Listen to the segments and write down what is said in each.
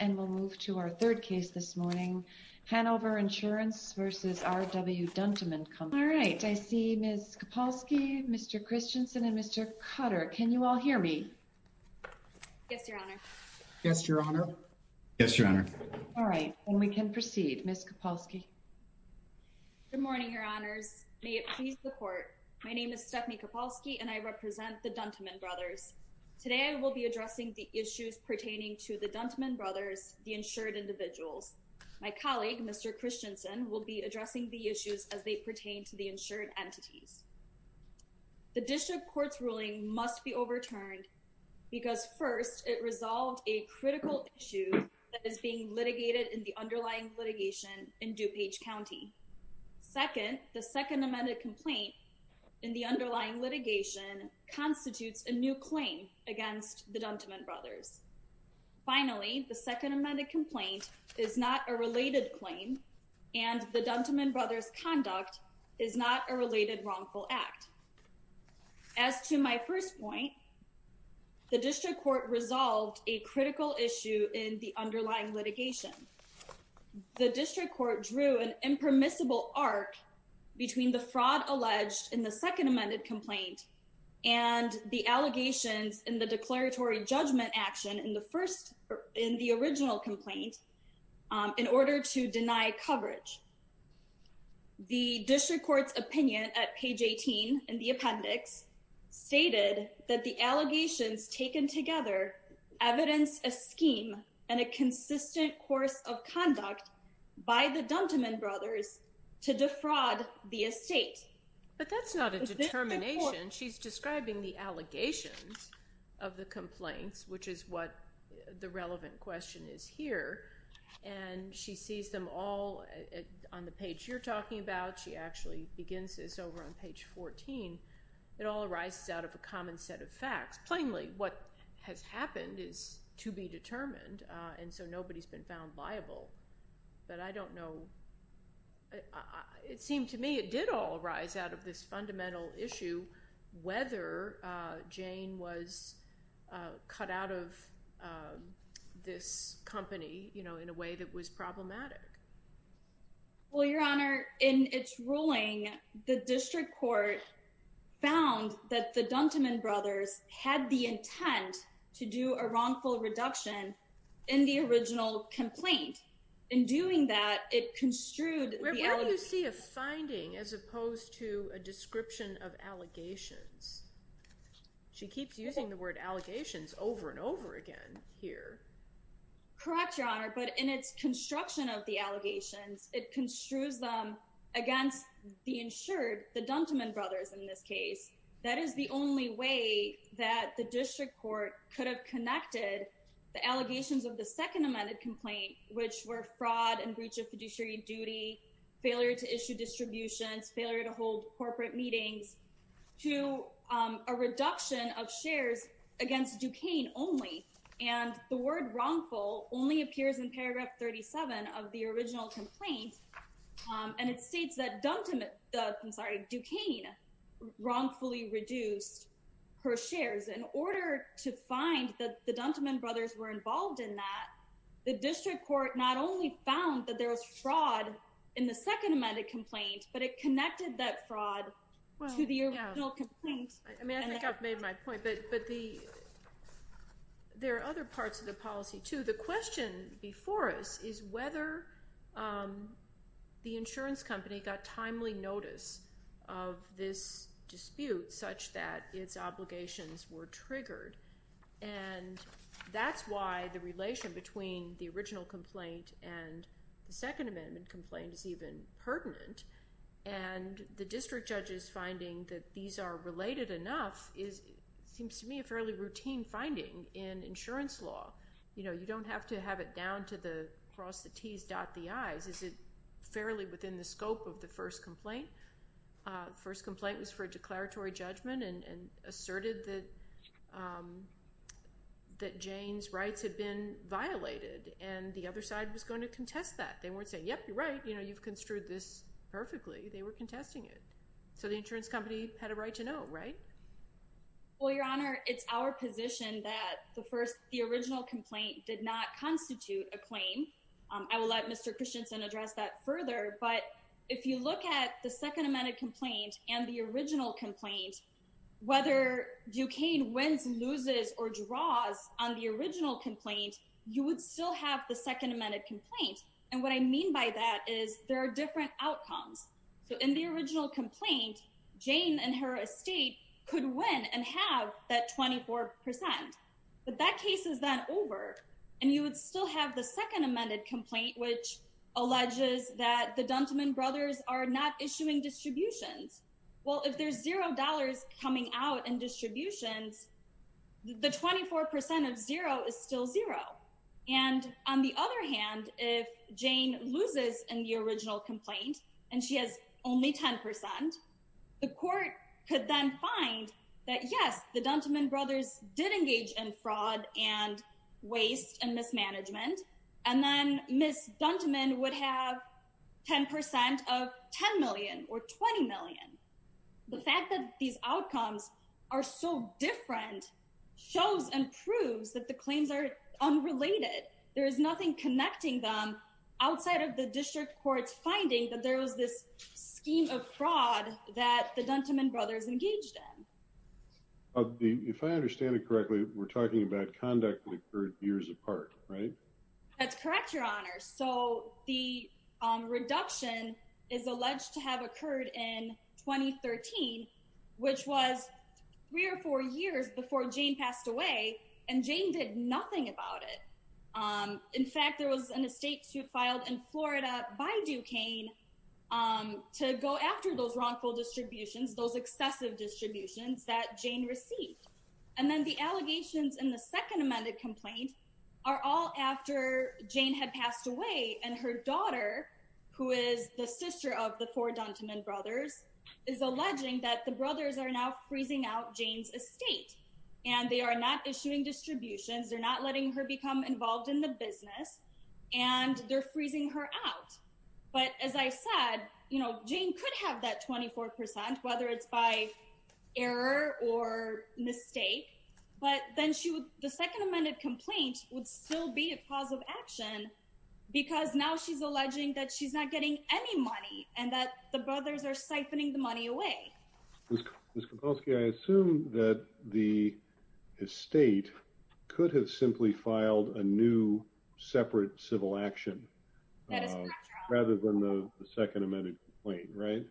and we'll move to our third case this morning. Hanover Insurance v. R.W. Dunteman Company. All right, I see Ms. Kopalski, Mr. Christensen, and Mr. Cutter. Can you all hear me? Yes, Your Honor. Yes, Your Honor. Yes, Your Honor. All right, then we can proceed. Ms. Kopalski. Good morning, Your Honors. May it please the Court, my name is Stephanie Kopalski and I represent the Dunteman Brothers. Today, I will be addressing the issues pertaining to the Dunteman Brothers, the insured individuals. My colleague, Mr. Christensen, will be addressing the issues as they pertain to the insured entities. The District Court's ruling must be overturned because first, it resolved a critical issue that is being litigated in the underlying litigation in DuPage County. Second, the Second Amended Complaint in the underlying litigation constitutes a new claim against the Dunteman Brothers. Finally, the Second Amended Complaint is not a related claim and the Dunteman Brothers' conduct is not a related wrongful act. As to my first point, the District Court resolved a critical issue in the underlying litigation. The District Court drew an impermissible arc between the fraud alleged in the Second Amended Complaint and the allegations in the declaratory judgment action in the original complaint in order to deny coverage. The District Court's opinion at page 18 in the appendix stated that the allegations taken together evidence a scheme and a consistent course of conduct by the Dunteman Brothers to defraud the estate. But that's not a determination. She's describing the allegations of the complaints, which is what the relevant question is here, and she sees them all on the page you're talking about. She actually begins this over on page 14. It all arises out of common set of facts. Plainly, what has happened is to be determined and so nobody's been found liable. But I don't know. It seemed to me it did all arise out of this fundamental issue whether Jane was cut out of this company, you know, in a way that was problematic. Well, Your Honor, in its ruling, the District Court found that the Dunteman Brothers had the intent to do a wrongful reduction in the original complaint. In doing that, it construed... Where do you see a finding as opposed to a description of allegations? She keeps using the word allegations over and over again here. Correct, Your Honor, but in its construction of the allegations, it construes them against the insured, the Dunteman Brothers in this case. That is the only way that the District Court could have connected the allegations of the second amended complaint, which were fraud and breach of fiduciary duty, failure to issue distributions, failure to hold corporate meetings to a reduction of shares against Duquesne only. And the word wrongful only appears in paragraph 37 of the original complaint. And it states that Duquesne wrongfully reduced her shares. In order to find that the Dunteman Brothers were involved in that, the District Court not only found that there was fraud in the second amended complaint, but it connected that fraud to the original complaint. I mean, I think I've made my point, but there are other parts of the policy too. The question before us is whether the insurance company got timely notice of this dispute such that its obligations were triggered. And that's why the relation between the original complaint and the second amendment complaint is even pertinent. And the district judge is finding that these are related enough is, seems to me, a fairly routine finding in insurance law. You know, you don't have to have it down to the cross the t's, dot the i's. Is it fairly within the scope of the first complaint? First complaint was for a declaratory judgment and asserted that Jane's rights had been violated. And the other side was going to contest that. They weren't saying, yep, you're right, you know, you've construed this perfectly. They were contesting it. So the insurance company had a right to know, right? Well, Your Honor, it's our position that the first, the original complaint did not constitute a claim. I will let Mr. Christensen address that further. But if you look at the second amended complaint and the original complaint, whether Duquesne wins, loses, or draws on the original complaint, you would still have the second amended complaint. And what I mean by that is there are different outcomes. So in the original complaint, Jane and her estate could win and have that 24%. But that case is not over. And you would still have the second amended complaint, which alleges that the Dunteman brothers are not issuing distributions. Well, if there's zero dollars coming out and distributions, the 24% of zero is still zero. And on the other hand, if Jane loses in the original complaint, and she has only 10%, the court could then find that yes, the Dunteman brothers did engage in fraud and waste and mismanagement. And then Miss Dunteman would have 10% of 10 million or 20 million. The fact that these outcomes are so different, shows and outside of the district courts finding that there was this scheme of fraud that the Dunteman brothers engaged in. If I understand it correctly, we're talking about conduct that occurred years apart, right? That's correct, Your Honor. So the reduction is alleged to have occurred in 2013, which was three or four years before Jane passed away. And Jane did nothing about it. In fact, there was an estate suit filed in Florida by Duquesne to go after those wrongful distributions, those excessive distributions that Jane received. And then the allegations in the second amended complaint are all after Jane had passed away. And her daughter, who is the sister of the four Dunteman brothers, is alleging that the brothers are now freezing out Jane's estate. And they are not issuing distributions, they're not letting her become involved in the business. And they're freezing her out. But as I said, you know, Jane could have that 24%, whether it's by error or mistake, but then the second amended complaint would still be a cause of action. Because now she's alleging that she's not getting any money and that the brothers are siphoning the estate could have simply filed a new separate civil action rather than the second amended complaint, right?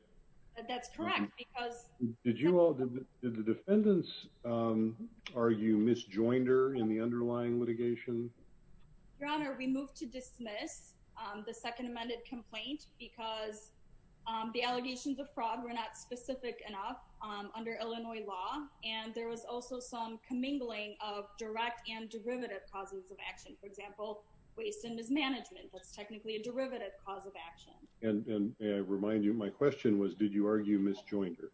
That's correct. Because did you all did the defendants? Are you Miss Joinder in the underlying litigation? Your Honor, we moved to dismiss the second amended complaint because the allegations of fraud were not specific enough under Illinois law. And there was also some mingling of direct and derivative causes of action. For example, waste and mismanagement, that's technically a derivative cause of action. And I remind you, my question was, did you argue Miss Joinder?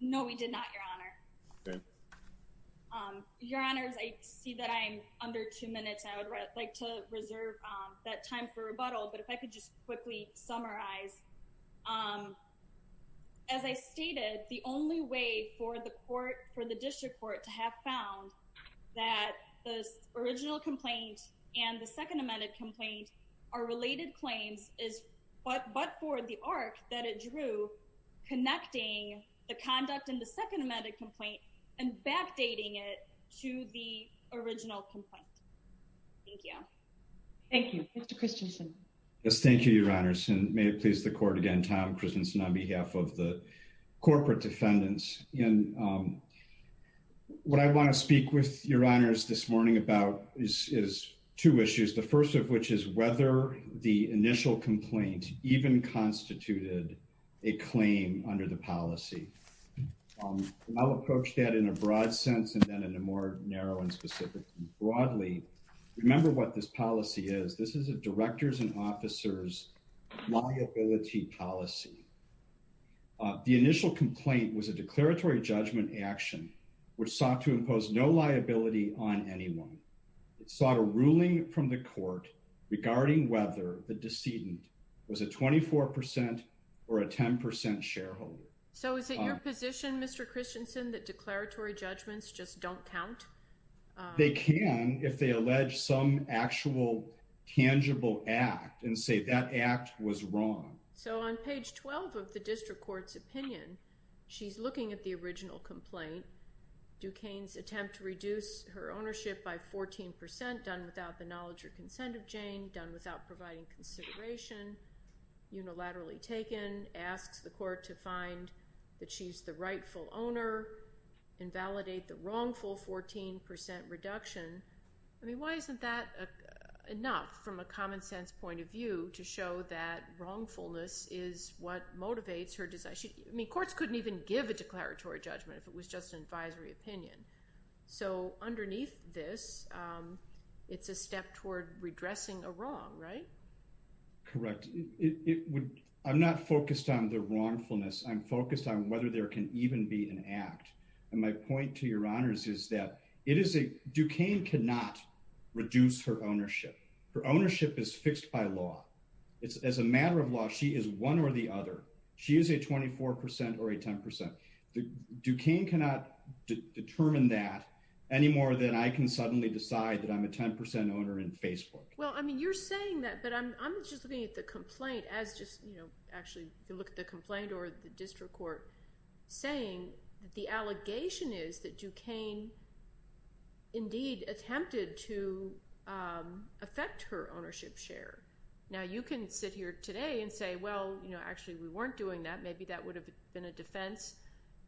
No, we did not, Your Honor. Your Honors, I see that I'm under two minutes, I would like to reserve that time for rebuttal. But if I could just quickly summarize. As I stated, the only way for the court, for the district court to have found that the original complaint and the second amended complaint are related claims is, but for the arc that it drew, connecting the conduct in the second amended complaint and backdating it to the original complaint. Thank you. Thank you, Mr. Christensen. Yes, thank you, Your Honors. And may please the court again, Tom Christensen on behalf of the corporate defendants. And what I want to speak with Your Honors this morning about is two issues. The first of which is whether the initial complaint even constituted a claim under the policy. I'll approach that in a broad sense and then in a more narrow and specific, broadly. Remember what this policy is. This is a director's officer's liability policy. The initial complaint was a declaratory judgment action, which sought to impose no liability on anyone. It sought a ruling from the court regarding whether the decedent was a 24% or a 10% shareholder. So is it your position, Mr. Christensen, that declaratory and say that act was wrong? So on page 12 of the district court's opinion, she's looking at the original complaint. Duquesne's attempt to reduce her ownership by 14%, done without the knowledge or consent of Jane, done without providing consideration, unilaterally taken, asks the court to find that she's the rightful owner, invalidate the wrongful 14% reduction. I mean, isn't that enough from a common sense point of view to show that wrongfulness is what motivates her decision? I mean, courts couldn't even give a declaratory judgment if it was just an advisory opinion. So underneath this, it's a step toward redressing a wrong, right? Correct. I'm not focused on the wrongfulness. I'm focused on whether there can even be an act. And my point to Your reduce her ownership. Her ownership is fixed by law. It's as a matter of law, she is one or the other. She is a 24% or a 10%. Duquesne cannot determine that any more than I can suddenly decide that I'm a 10% owner in Facebook. Well, I mean, you're saying that, but I'm just looking at the complaint as just, you know, actually, if you look at the complaint or the district court, saying that the allegation is that Duquesne indeed attempted to affect her ownership share. Now, you can sit here today and say, Well, you know, actually, we weren't doing that. Maybe that would have been a defense.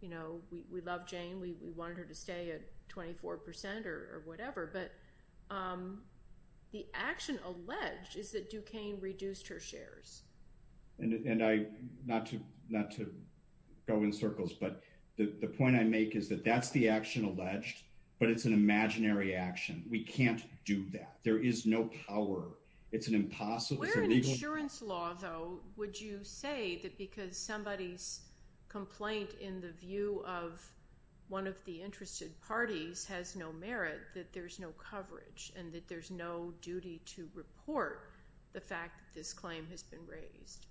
You know, we love Jane, we wanted her to stay at 24%, or whatever. But the action alleged is that Duquesne reduced her shares. And I not to not to go in circles. But the point I make is that that's the action alleged. But it's an imaginary action. We can't do that. There is no power. It's an impossible legal insurance law, though, would you say that because somebody's complaint in the view of one of the interested parties has no merit that there's no coverage and that there's no duty to report the fact this claim has been raised?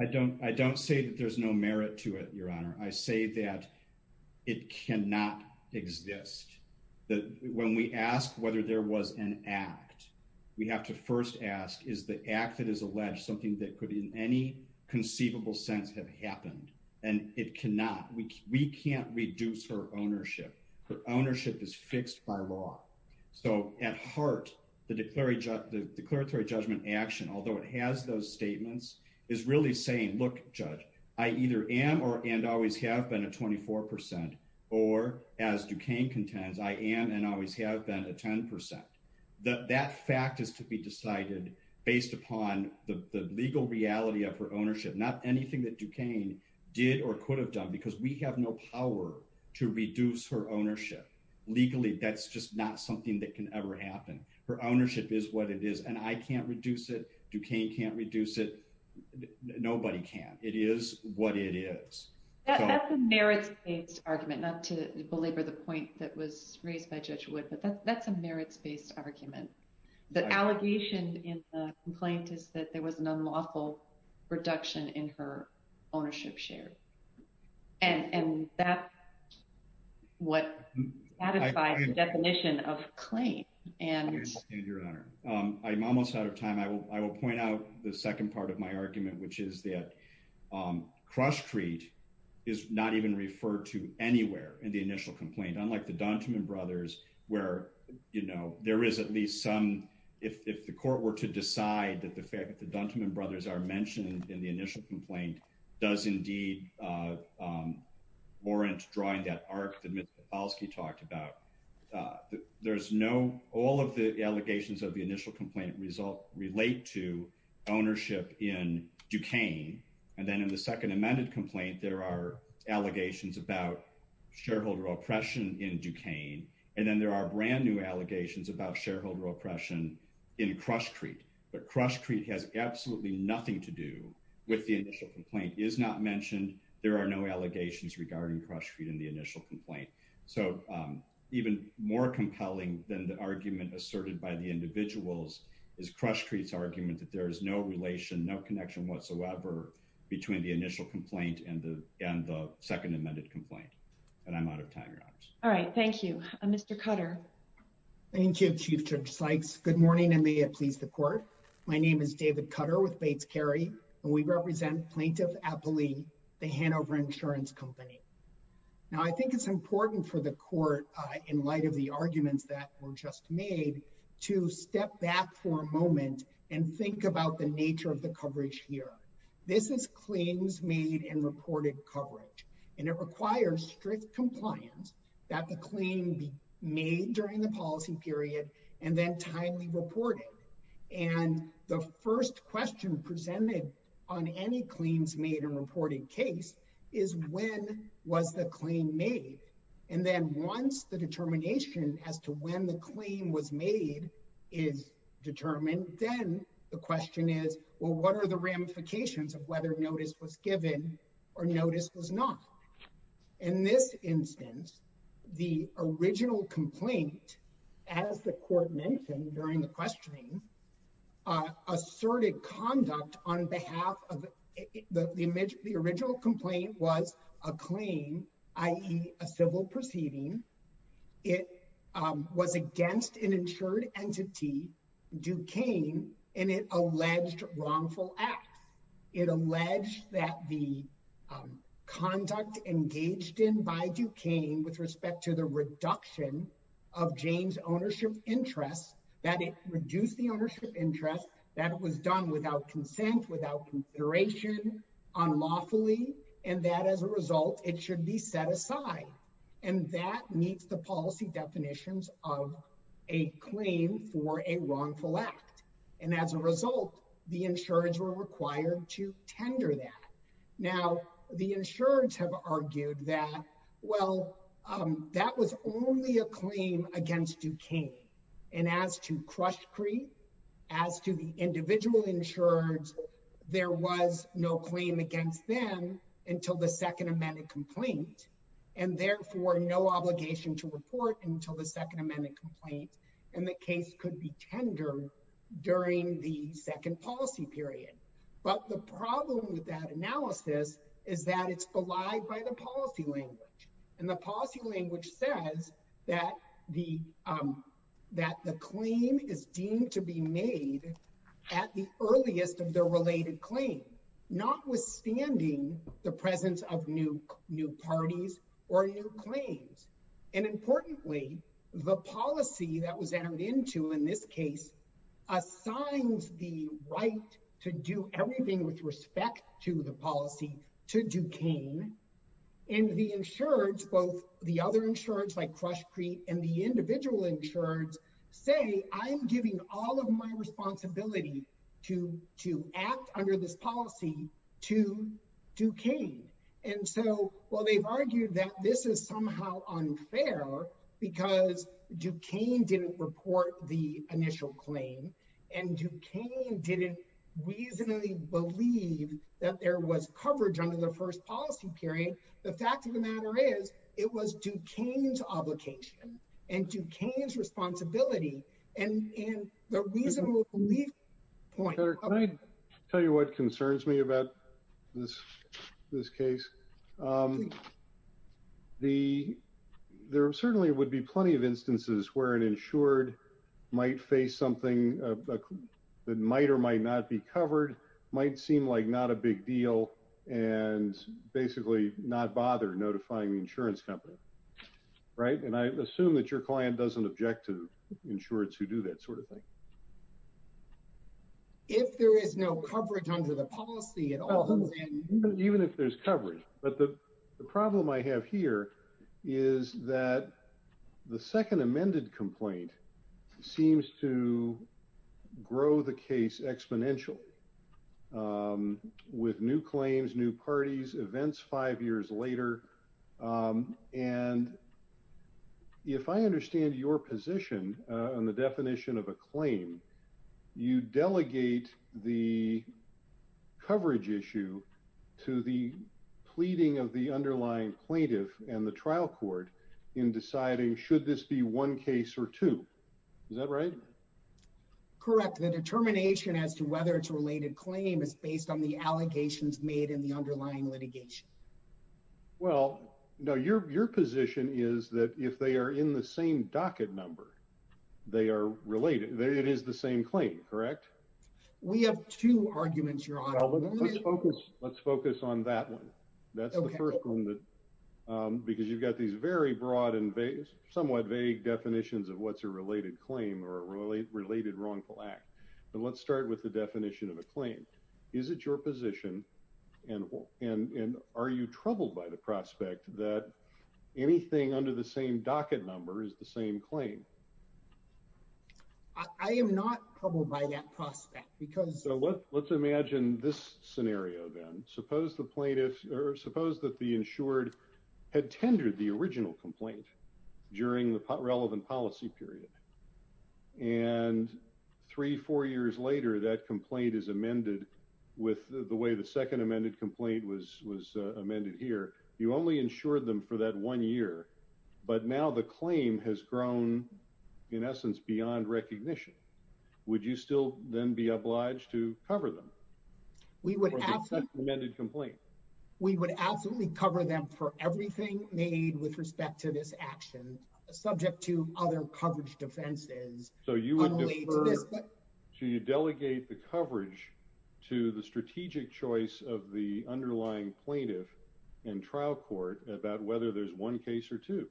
I don't I don't say that there's no merit to it, Your Honor, I say that it cannot exist. That when we ask whether there was an act, we have to first ask is the act that is alleged something that could in any conceivable sense have happened? And it cannot, we can't reduce her ownership. Her ownership is fixed by law. So at heart, the declaratory judgment action, although it has those statements, is really saying, Look, Judge, I either am or and always have been a 24%. Or as Duquesne contends, I am and always have been a 10%. That fact is to be decided based upon the legal reality of ownership, not anything that Duquesne did or could have done, because we have no power to reduce her ownership. Legally, that's just not something that can ever happen. Her ownership is what it is, and I can't reduce it. Duquesne can't reduce it. Nobody can. It is what it is. That's a merits-based argument, not to belabor the point that was raised by Judge Wood, but that's a merits-based argument. The allegation in the complaint is that there was an unlawful reduction in her ownership share. And that's what satisfies the definition of claim. I understand, Your Honor. I'm almost out of time. I will point out the second part of my argument, which is that cross-treat is not even referred to anywhere in the initial complaint, unlike the Duntiman brothers, where there is at least some, if the court were to decide that the Duntiman brothers are mentioned in the initial complaint, does indeed warrant drawing that arc that Mr. Kowalski talked about. There's no, all of the allegations of the initial complaint result, relate to ownership in Duquesne. And then in the second amended complaint, there are allegations about shareholder oppression in Duquesne. And then there are brand new allegations about shareholder oppression in cross-treat. But cross-treat has absolutely nothing to do with the initial complaint, is not mentioned. There are no allegations regarding cross-treat in the initial complaint. So even more compelling than the argument asserted by the individuals is cross-treat's argument that there is no relation, no connection whatsoever between the initial complaint and the second amended complaint. And I'm out of time, Your Honor. All right, thank you. Mr. Cutter. Thank you, Chief Judge Sykes. Good morning, and may it please the court. My name is David Cutter with Bates Carey, and we represent Plaintiff Appley, the Hanover Insurance Company. Now, I think it's important for the court, in light of the arguments that were just made, to step back for a moment and think about the nature of the coverage here. This is claims made and reported coverage, and it requires strict compliance that the claim be made during the policy period and then timely reported. And the first question presented on any claims made and reported case is, when was the claim made? And then once the determination as to when the claim was made is determined, then the question is, well, what are the ramifications of whether notice was given or notice was not? In this instance, the original complaint, as the court mentioned during the questioning, asserted conduct on behalf of the original complaint was a claim, i.e. a civil proceeding. It was against an insured entity, Duquesne, and it alleged wrongful acts. It alleged that the conduct engaged in by Duquesne with respect to the reduction of Jane's ownership interest, that it reduced the ownership interest, that it was done without consent, without consideration, unlawfully, and that as a result, it should be set aside. And that meets the policy definitions of a claim for a wrongful act. And as a result, the insureds were required to tender that. Now, the insureds have argued that, well, that was only a claim against Duquesne. And as to Crush Creek, as to the individual insureds, there was no claim against them until the second amended complaint, and therefore no obligation to report until the second amended complaint, and the case could be tendered during the second policy period. But the problem with that analysis is that it's belied by the policy language, and the policy language says that the claim is deemed to be made at the earliest of the related claim, notwithstanding the presence of new parties or new claims. And importantly, the policy that was entered into in this case assigns the right to do everything with respect to the policy to Duquesne. And the insureds, both the other insureds like Crush Creek and the individual insureds, say, I'm giving all of my responsibility to act under this policy to Duquesne. And so, well, they've argued that this is somehow unfair because Duquesne didn't report the initial claim, and Duquesne didn't reasonably believe that there was coverage under the first policy period. The fact of the matter is, it was Duquesne's obligation, and Duquesne's responsibility, and the reasonable belief point... Senator, can I tell you what concerns me about this case? There certainly would be plenty of instances where an insured might face something that might or might not be covered, might seem like not a big deal, and basically not bother notifying the insurance company, right? And I assume that your client doesn't object to insureds who do that sort of thing. If there is no coverage under the policy at all, then... Even if there's coverage. But the problem I have here is that the second amended complaint seems to grow the case exponential with new claims, new parties, events five years later. And if I understand your position on the definition of a claim, you delegate the to the pleading of the underlying plaintiff and the trial court in deciding should this be one case or two. Is that right? Correct. The determination as to whether it's a related claim is based on the allegations made in the underlying litigation. Well, no, your position is that if they are in the same docket number, they are related. It is the same claim, correct? We have two arguments, Your Honor. Let's focus on that one. That's the first one. Because you've got these very broad and somewhat vague definitions of what's a related claim or a related wrongful act. But let's start with the definition of a claim. Is it your position, and are you troubled by the prospect that anything under the same docket number is the same claim? I am not troubled by that prospect. Let's imagine this scenario, then. Suppose that the insured had tendered the original complaint during the relevant policy period. And three, four years later, that complaint is amended with the way the second amended complaint was amended here. You only insured them for that one year, but now the claim has grown, in essence, beyond recognition. Would you still then be obliged to cover them for the second amended complaint? We would absolutely cover them for everything made with respect to this action, subject to other coverage defenses. So you would defer, so you delegate the coverage to the strategic choice of the underlying plaintiff and trial court about whether there's one case or two.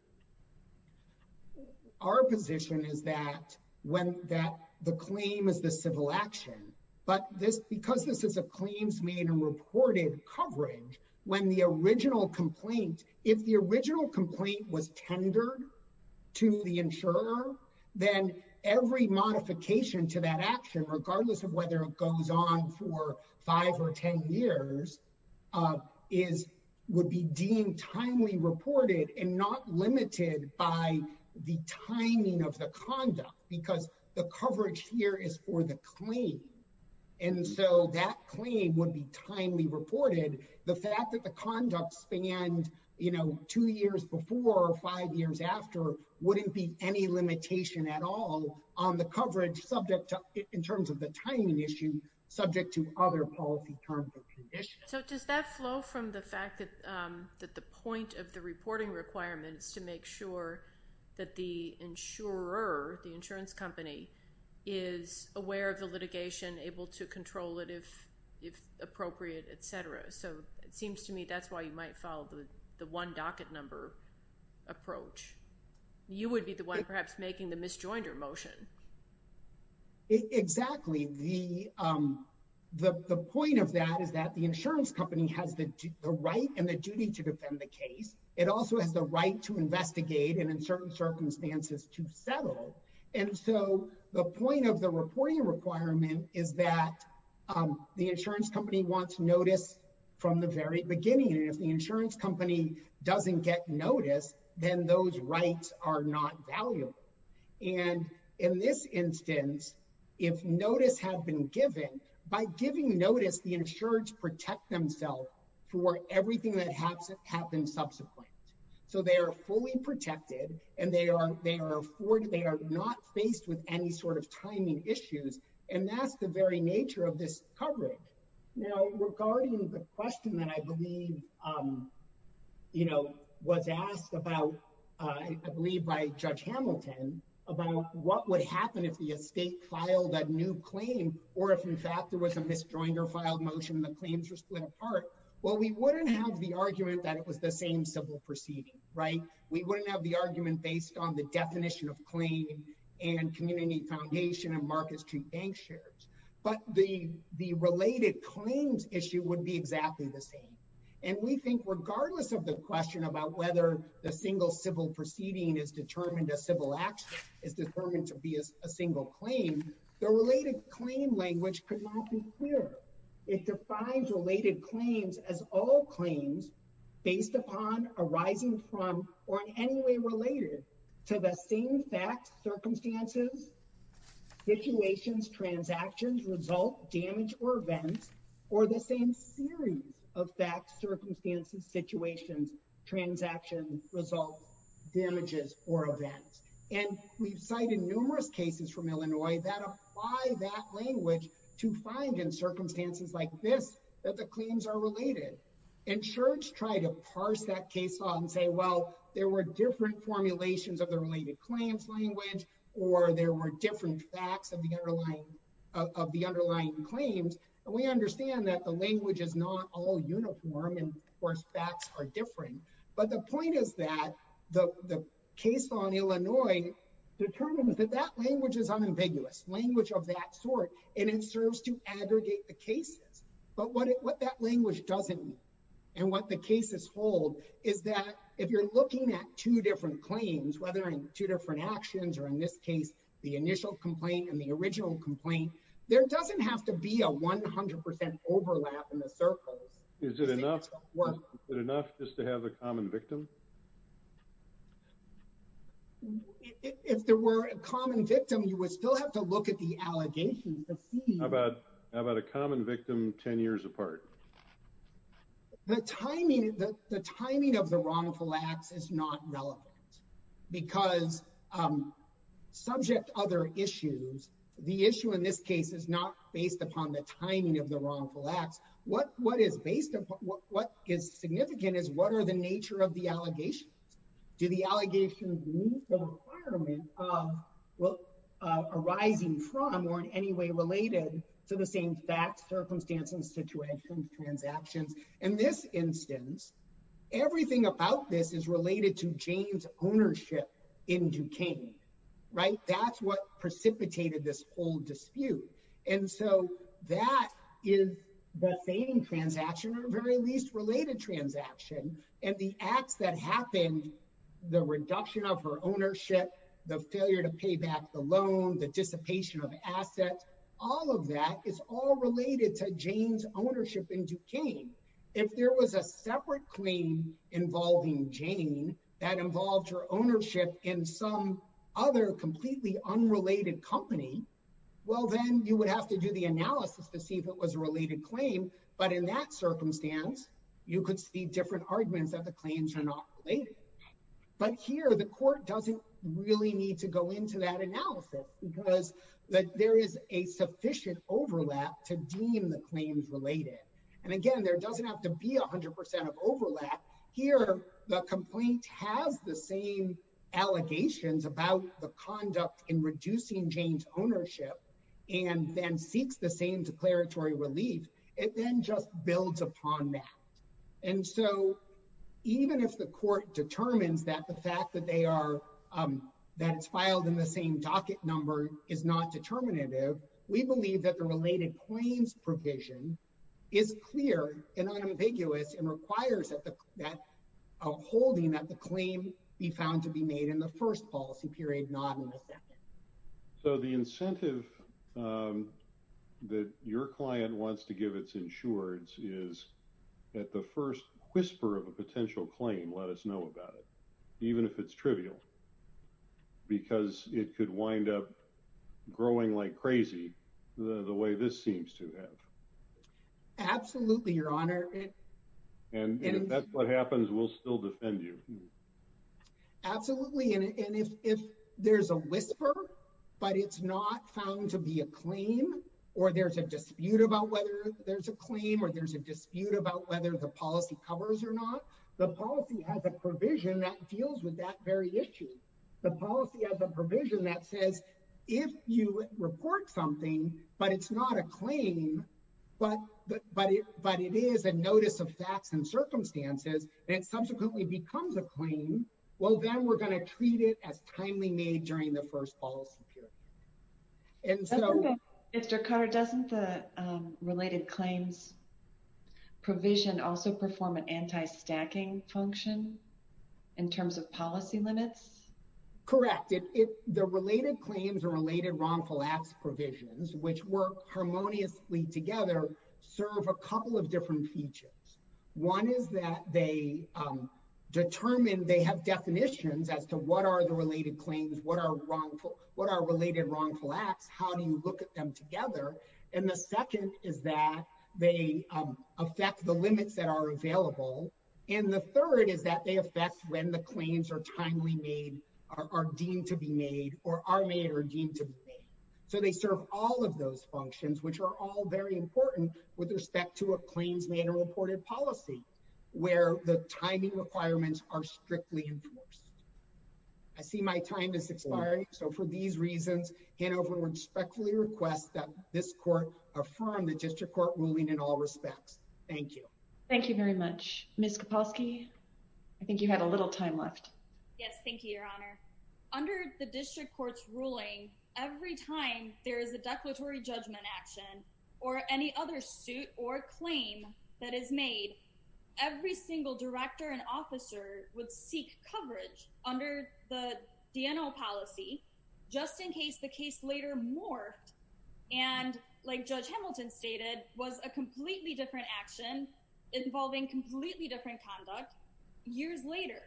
Our position is that the claim is the civil action, but because this is a claims made and reported coverage, when the original complaint, if the original complaint was tendered to the insurer, then every modification to that action, regardless of whether it goes on for five or 10 years, would be deemed timely reported and not limited by the timing of the conduct, because the coverage here is for the claim. And so that claim would be timely reported. The fact that the conduct spanned two years before or five years after wouldn't be any limitation at all on the coverage in terms of the timing issue, subject to other policy terms or conditions. So does that flow from the fact that the point of the reporting requirement is to make sure that the insurer, the insurance company, is aware of the litigation, able to control it if appropriate, et cetera. So it seems to me that's why you might follow the one docket number approach. You would be the one perhaps making the misjoinder motion. Exactly. The point of that is that the insurance company has the right and the duty to defend the case. It also has the right to investigate and in certain circumstances to settle. And so the point of the reporting requirement is that the insurance company wants notice from the very beginning. And if the insurance company doesn't get notice, then those rights are not valuable. And in this instance, if notice had been given, by giving notice, the insurers protect themselves for everything that has happened subsequently. So they are fully protected and they are not faced with any sort of timing issues. And that's the very nature of this coverage. Now, regarding the question that I believe was asked about, I believe by Judge Hamilton, about what would happen if the estate filed a new claim or if in fact there was a misjoinder filed motion and the claims were split apart. Well, we wouldn't have the argument that it was the same civil proceeding, right? We wouldn't have the argument based on the definition of claim and community foundation and markets to bank shares. But the related claims issue would be exactly the same. And we think regardless of the question about whether the single civil proceeding is determined as civil action, is determined to be a single claim, the related claim language could not be clear. It defines related claims as all claims based upon, arising from, or in any way related to the same facts, circumstances, situations, transactions, result, damage, or events, or the same series of facts, circumstances, situations, transactions, results, damages, or events. And we've cited numerous cases from Illinois that apply that language to find in circumstances like this, that the claims are related. And Church tried to parse that case law and say, well, there were different formulations of the related claims language, or there were different facts of the underlying claims. And we understand that the language is not all uniform and, of course, facts are different. But the point is that the case law in Illinois determines that that language is unambiguous, language of that sort, and it serves to aggregate the cases. But what that language doesn't mean, and what the cases hold, is that if you're looking at two different claims, whether in two different actions, or in this case, the initial complaint and the original complaint, there doesn't have to be a 100% overlap in the circles. Is it enough just to have a common victim? If there were a common victim, you would still have to look at the allegations to see. How about a common victim 10 years apart? The timing of the wrongful acts is not relevant, because subject to other issues, the issue in this case is not based upon the timing of the wrongful acts. What is significant is what are the nature of the allegations? Do the allegations meet the requirement of what arising from or in any way related to the same facts, circumstances, situations, transactions? In this instance, everything about this is related to James' ownership in Duquesne, right? That's what precipitated this whole dispute. And so that is the same transaction or very least related transaction. And the acts that happened, the reduction of her ownership, the failure to pay back the loan, the dissipation of assets, all of that is all related to Jane's ownership in Duquesne. If there was a separate claim involving Jane that involved her ownership in some other completely unrelated company, well, then you would have to do the analysis to see if it was a related claim. But in that circumstance, you could see different arguments that the claims are not related. But here, the court doesn't really need to go into that analysis, because there is a sufficient overlap to deem the claims related. And again, there doesn't have to be 100% of overlap. Here, the complaint has the same allegations about the conduct in reducing Jane's ownership and then seeks the same declaratory relief. It then just builds upon that. And so, even if the court determines that the fact that it's filed in the same docket number is not determinative, we believe that the related claims provision is clear and unambiguous and requires a holding that the claim be found to be made in the first policy period, not in the second. So the incentive that your client wants to give its insureds is that the first whisper of a potential claim, let us know about it, even if it's trivial, because it could wind up growing like crazy the way this seems to have. Absolutely, Your Honor. And if that's what happens, we'll still defend you. Absolutely. And if there's a whisper, but it's not found to be a claim, or there's a dispute about whether there's a claim, or there's a dispute about whether the policy covers or not, the policy has a provision that deals with that very issue. The policy has a provision that says, if you report something, but it's not a claim, but it is a notice of facts and circumstances, and subsequently becomes a claim, well, then we're going to treat it as timely made during the first policy period. And so... Mr. Carter, doesn't the related claims provision also perform an anti-stacking function in terms of policy limits? Correct. The related claims or related wrongful acts provisions, which work harmoniously together, serve a couple of different features. One is that they determine, they have definitions as to what are the related claims, what are related wrongful acts, how do you look at them together? And the second is that they affect the limits that are available. And the third is that they are timely made, are deemed to be made, or are made or deemed to be made. So they serve all of those functions, which are all very important with respect to a claims manual reported policy, where the timing requirements are strictly enforced. I see my time is expiring. So for these reasons, Hanover respectfully requests that this court affirm the district court ruling in all respects. Thank you. Thank you very much. Ms. Kaposky, I think you had a little time left. Yes. Thank you, Your Honor. Under the district court's ruling, every time there is a declaratory judgment action or any other suit or claim that is made, every single director and officer would seek coverage under the DNO policy, just in case the case later morphed. And like Judge Hamilton stated, was a completely different action involving completely different conduct years later.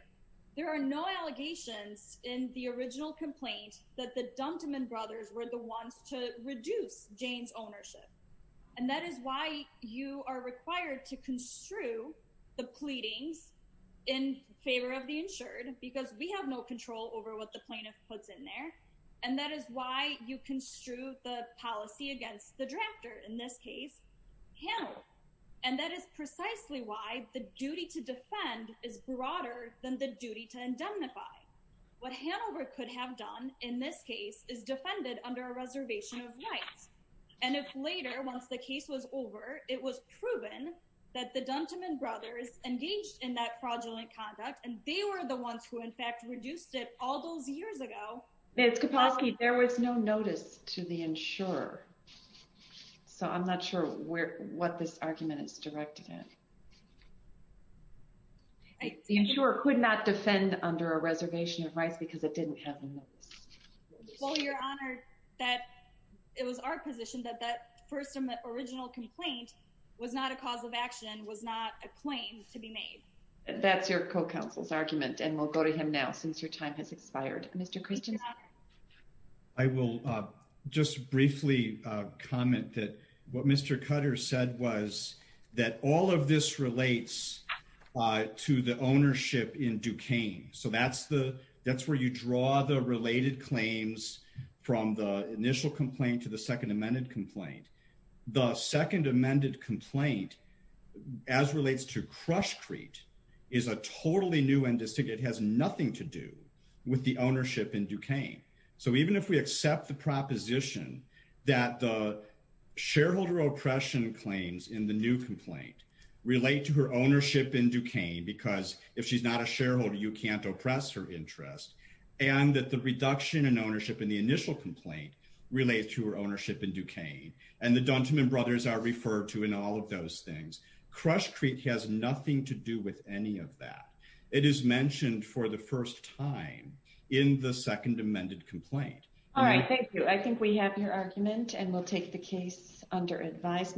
There are no allegations in the original complaint that the Dunteman brothers were the ones to reduce Jane's ownership. And that is why you are required to construe the pleadings in favor of the insured, because we have no control over what the plaintiff puts in there. And that is why you construe the policy against the drafter, in this case, Hanover. And that is precisely why the duty to defend is broader than the duty to indemnify. What Hanover could have done in this case is defended under a reservation of rights. And if later, once the case was over, it was proven that the Dunteman brothers engaged in that fraudulent conduct, and they were the ones who in fact reduced it all those years ago. Ms. Kapowski, there was no notice to the insurer. So I'm not sure what this argument is directed at. The insurer could not defend under a reservation of rights because it didn't have a notice. Well, Your Honor, it was our position that that first original complaint was not a cause of action, was not a claim to be made. That's your co-counsel's argument, and we'll go to him now, since your time has expired. Mr. Christian. I will just briefly comment that what Mr. Cutter said was that all of this relates to the ownership in Duquesne. So that's where you draw the related claims from the initial complaint to the second amended complaint. The second amended complaint, as relates to it has nothing to do with the ownership in Duquesne. So even if we accept the proposition that the shareholder oppression claims in the new complaint relate to her ownership in Duquesne, because if she's not a shareholder, you can't oppress her interest, and that the reduction in ownership in the initial complaint relates to her ownership in Duquesne, and the Dunteman brothers are referred to in all of those things. Crush Creek has nothing to do with any of that. It is mentioned for the first time in the second amended complaint. All right. Thank you. I think we have your argument, and we'll take the case under advisement.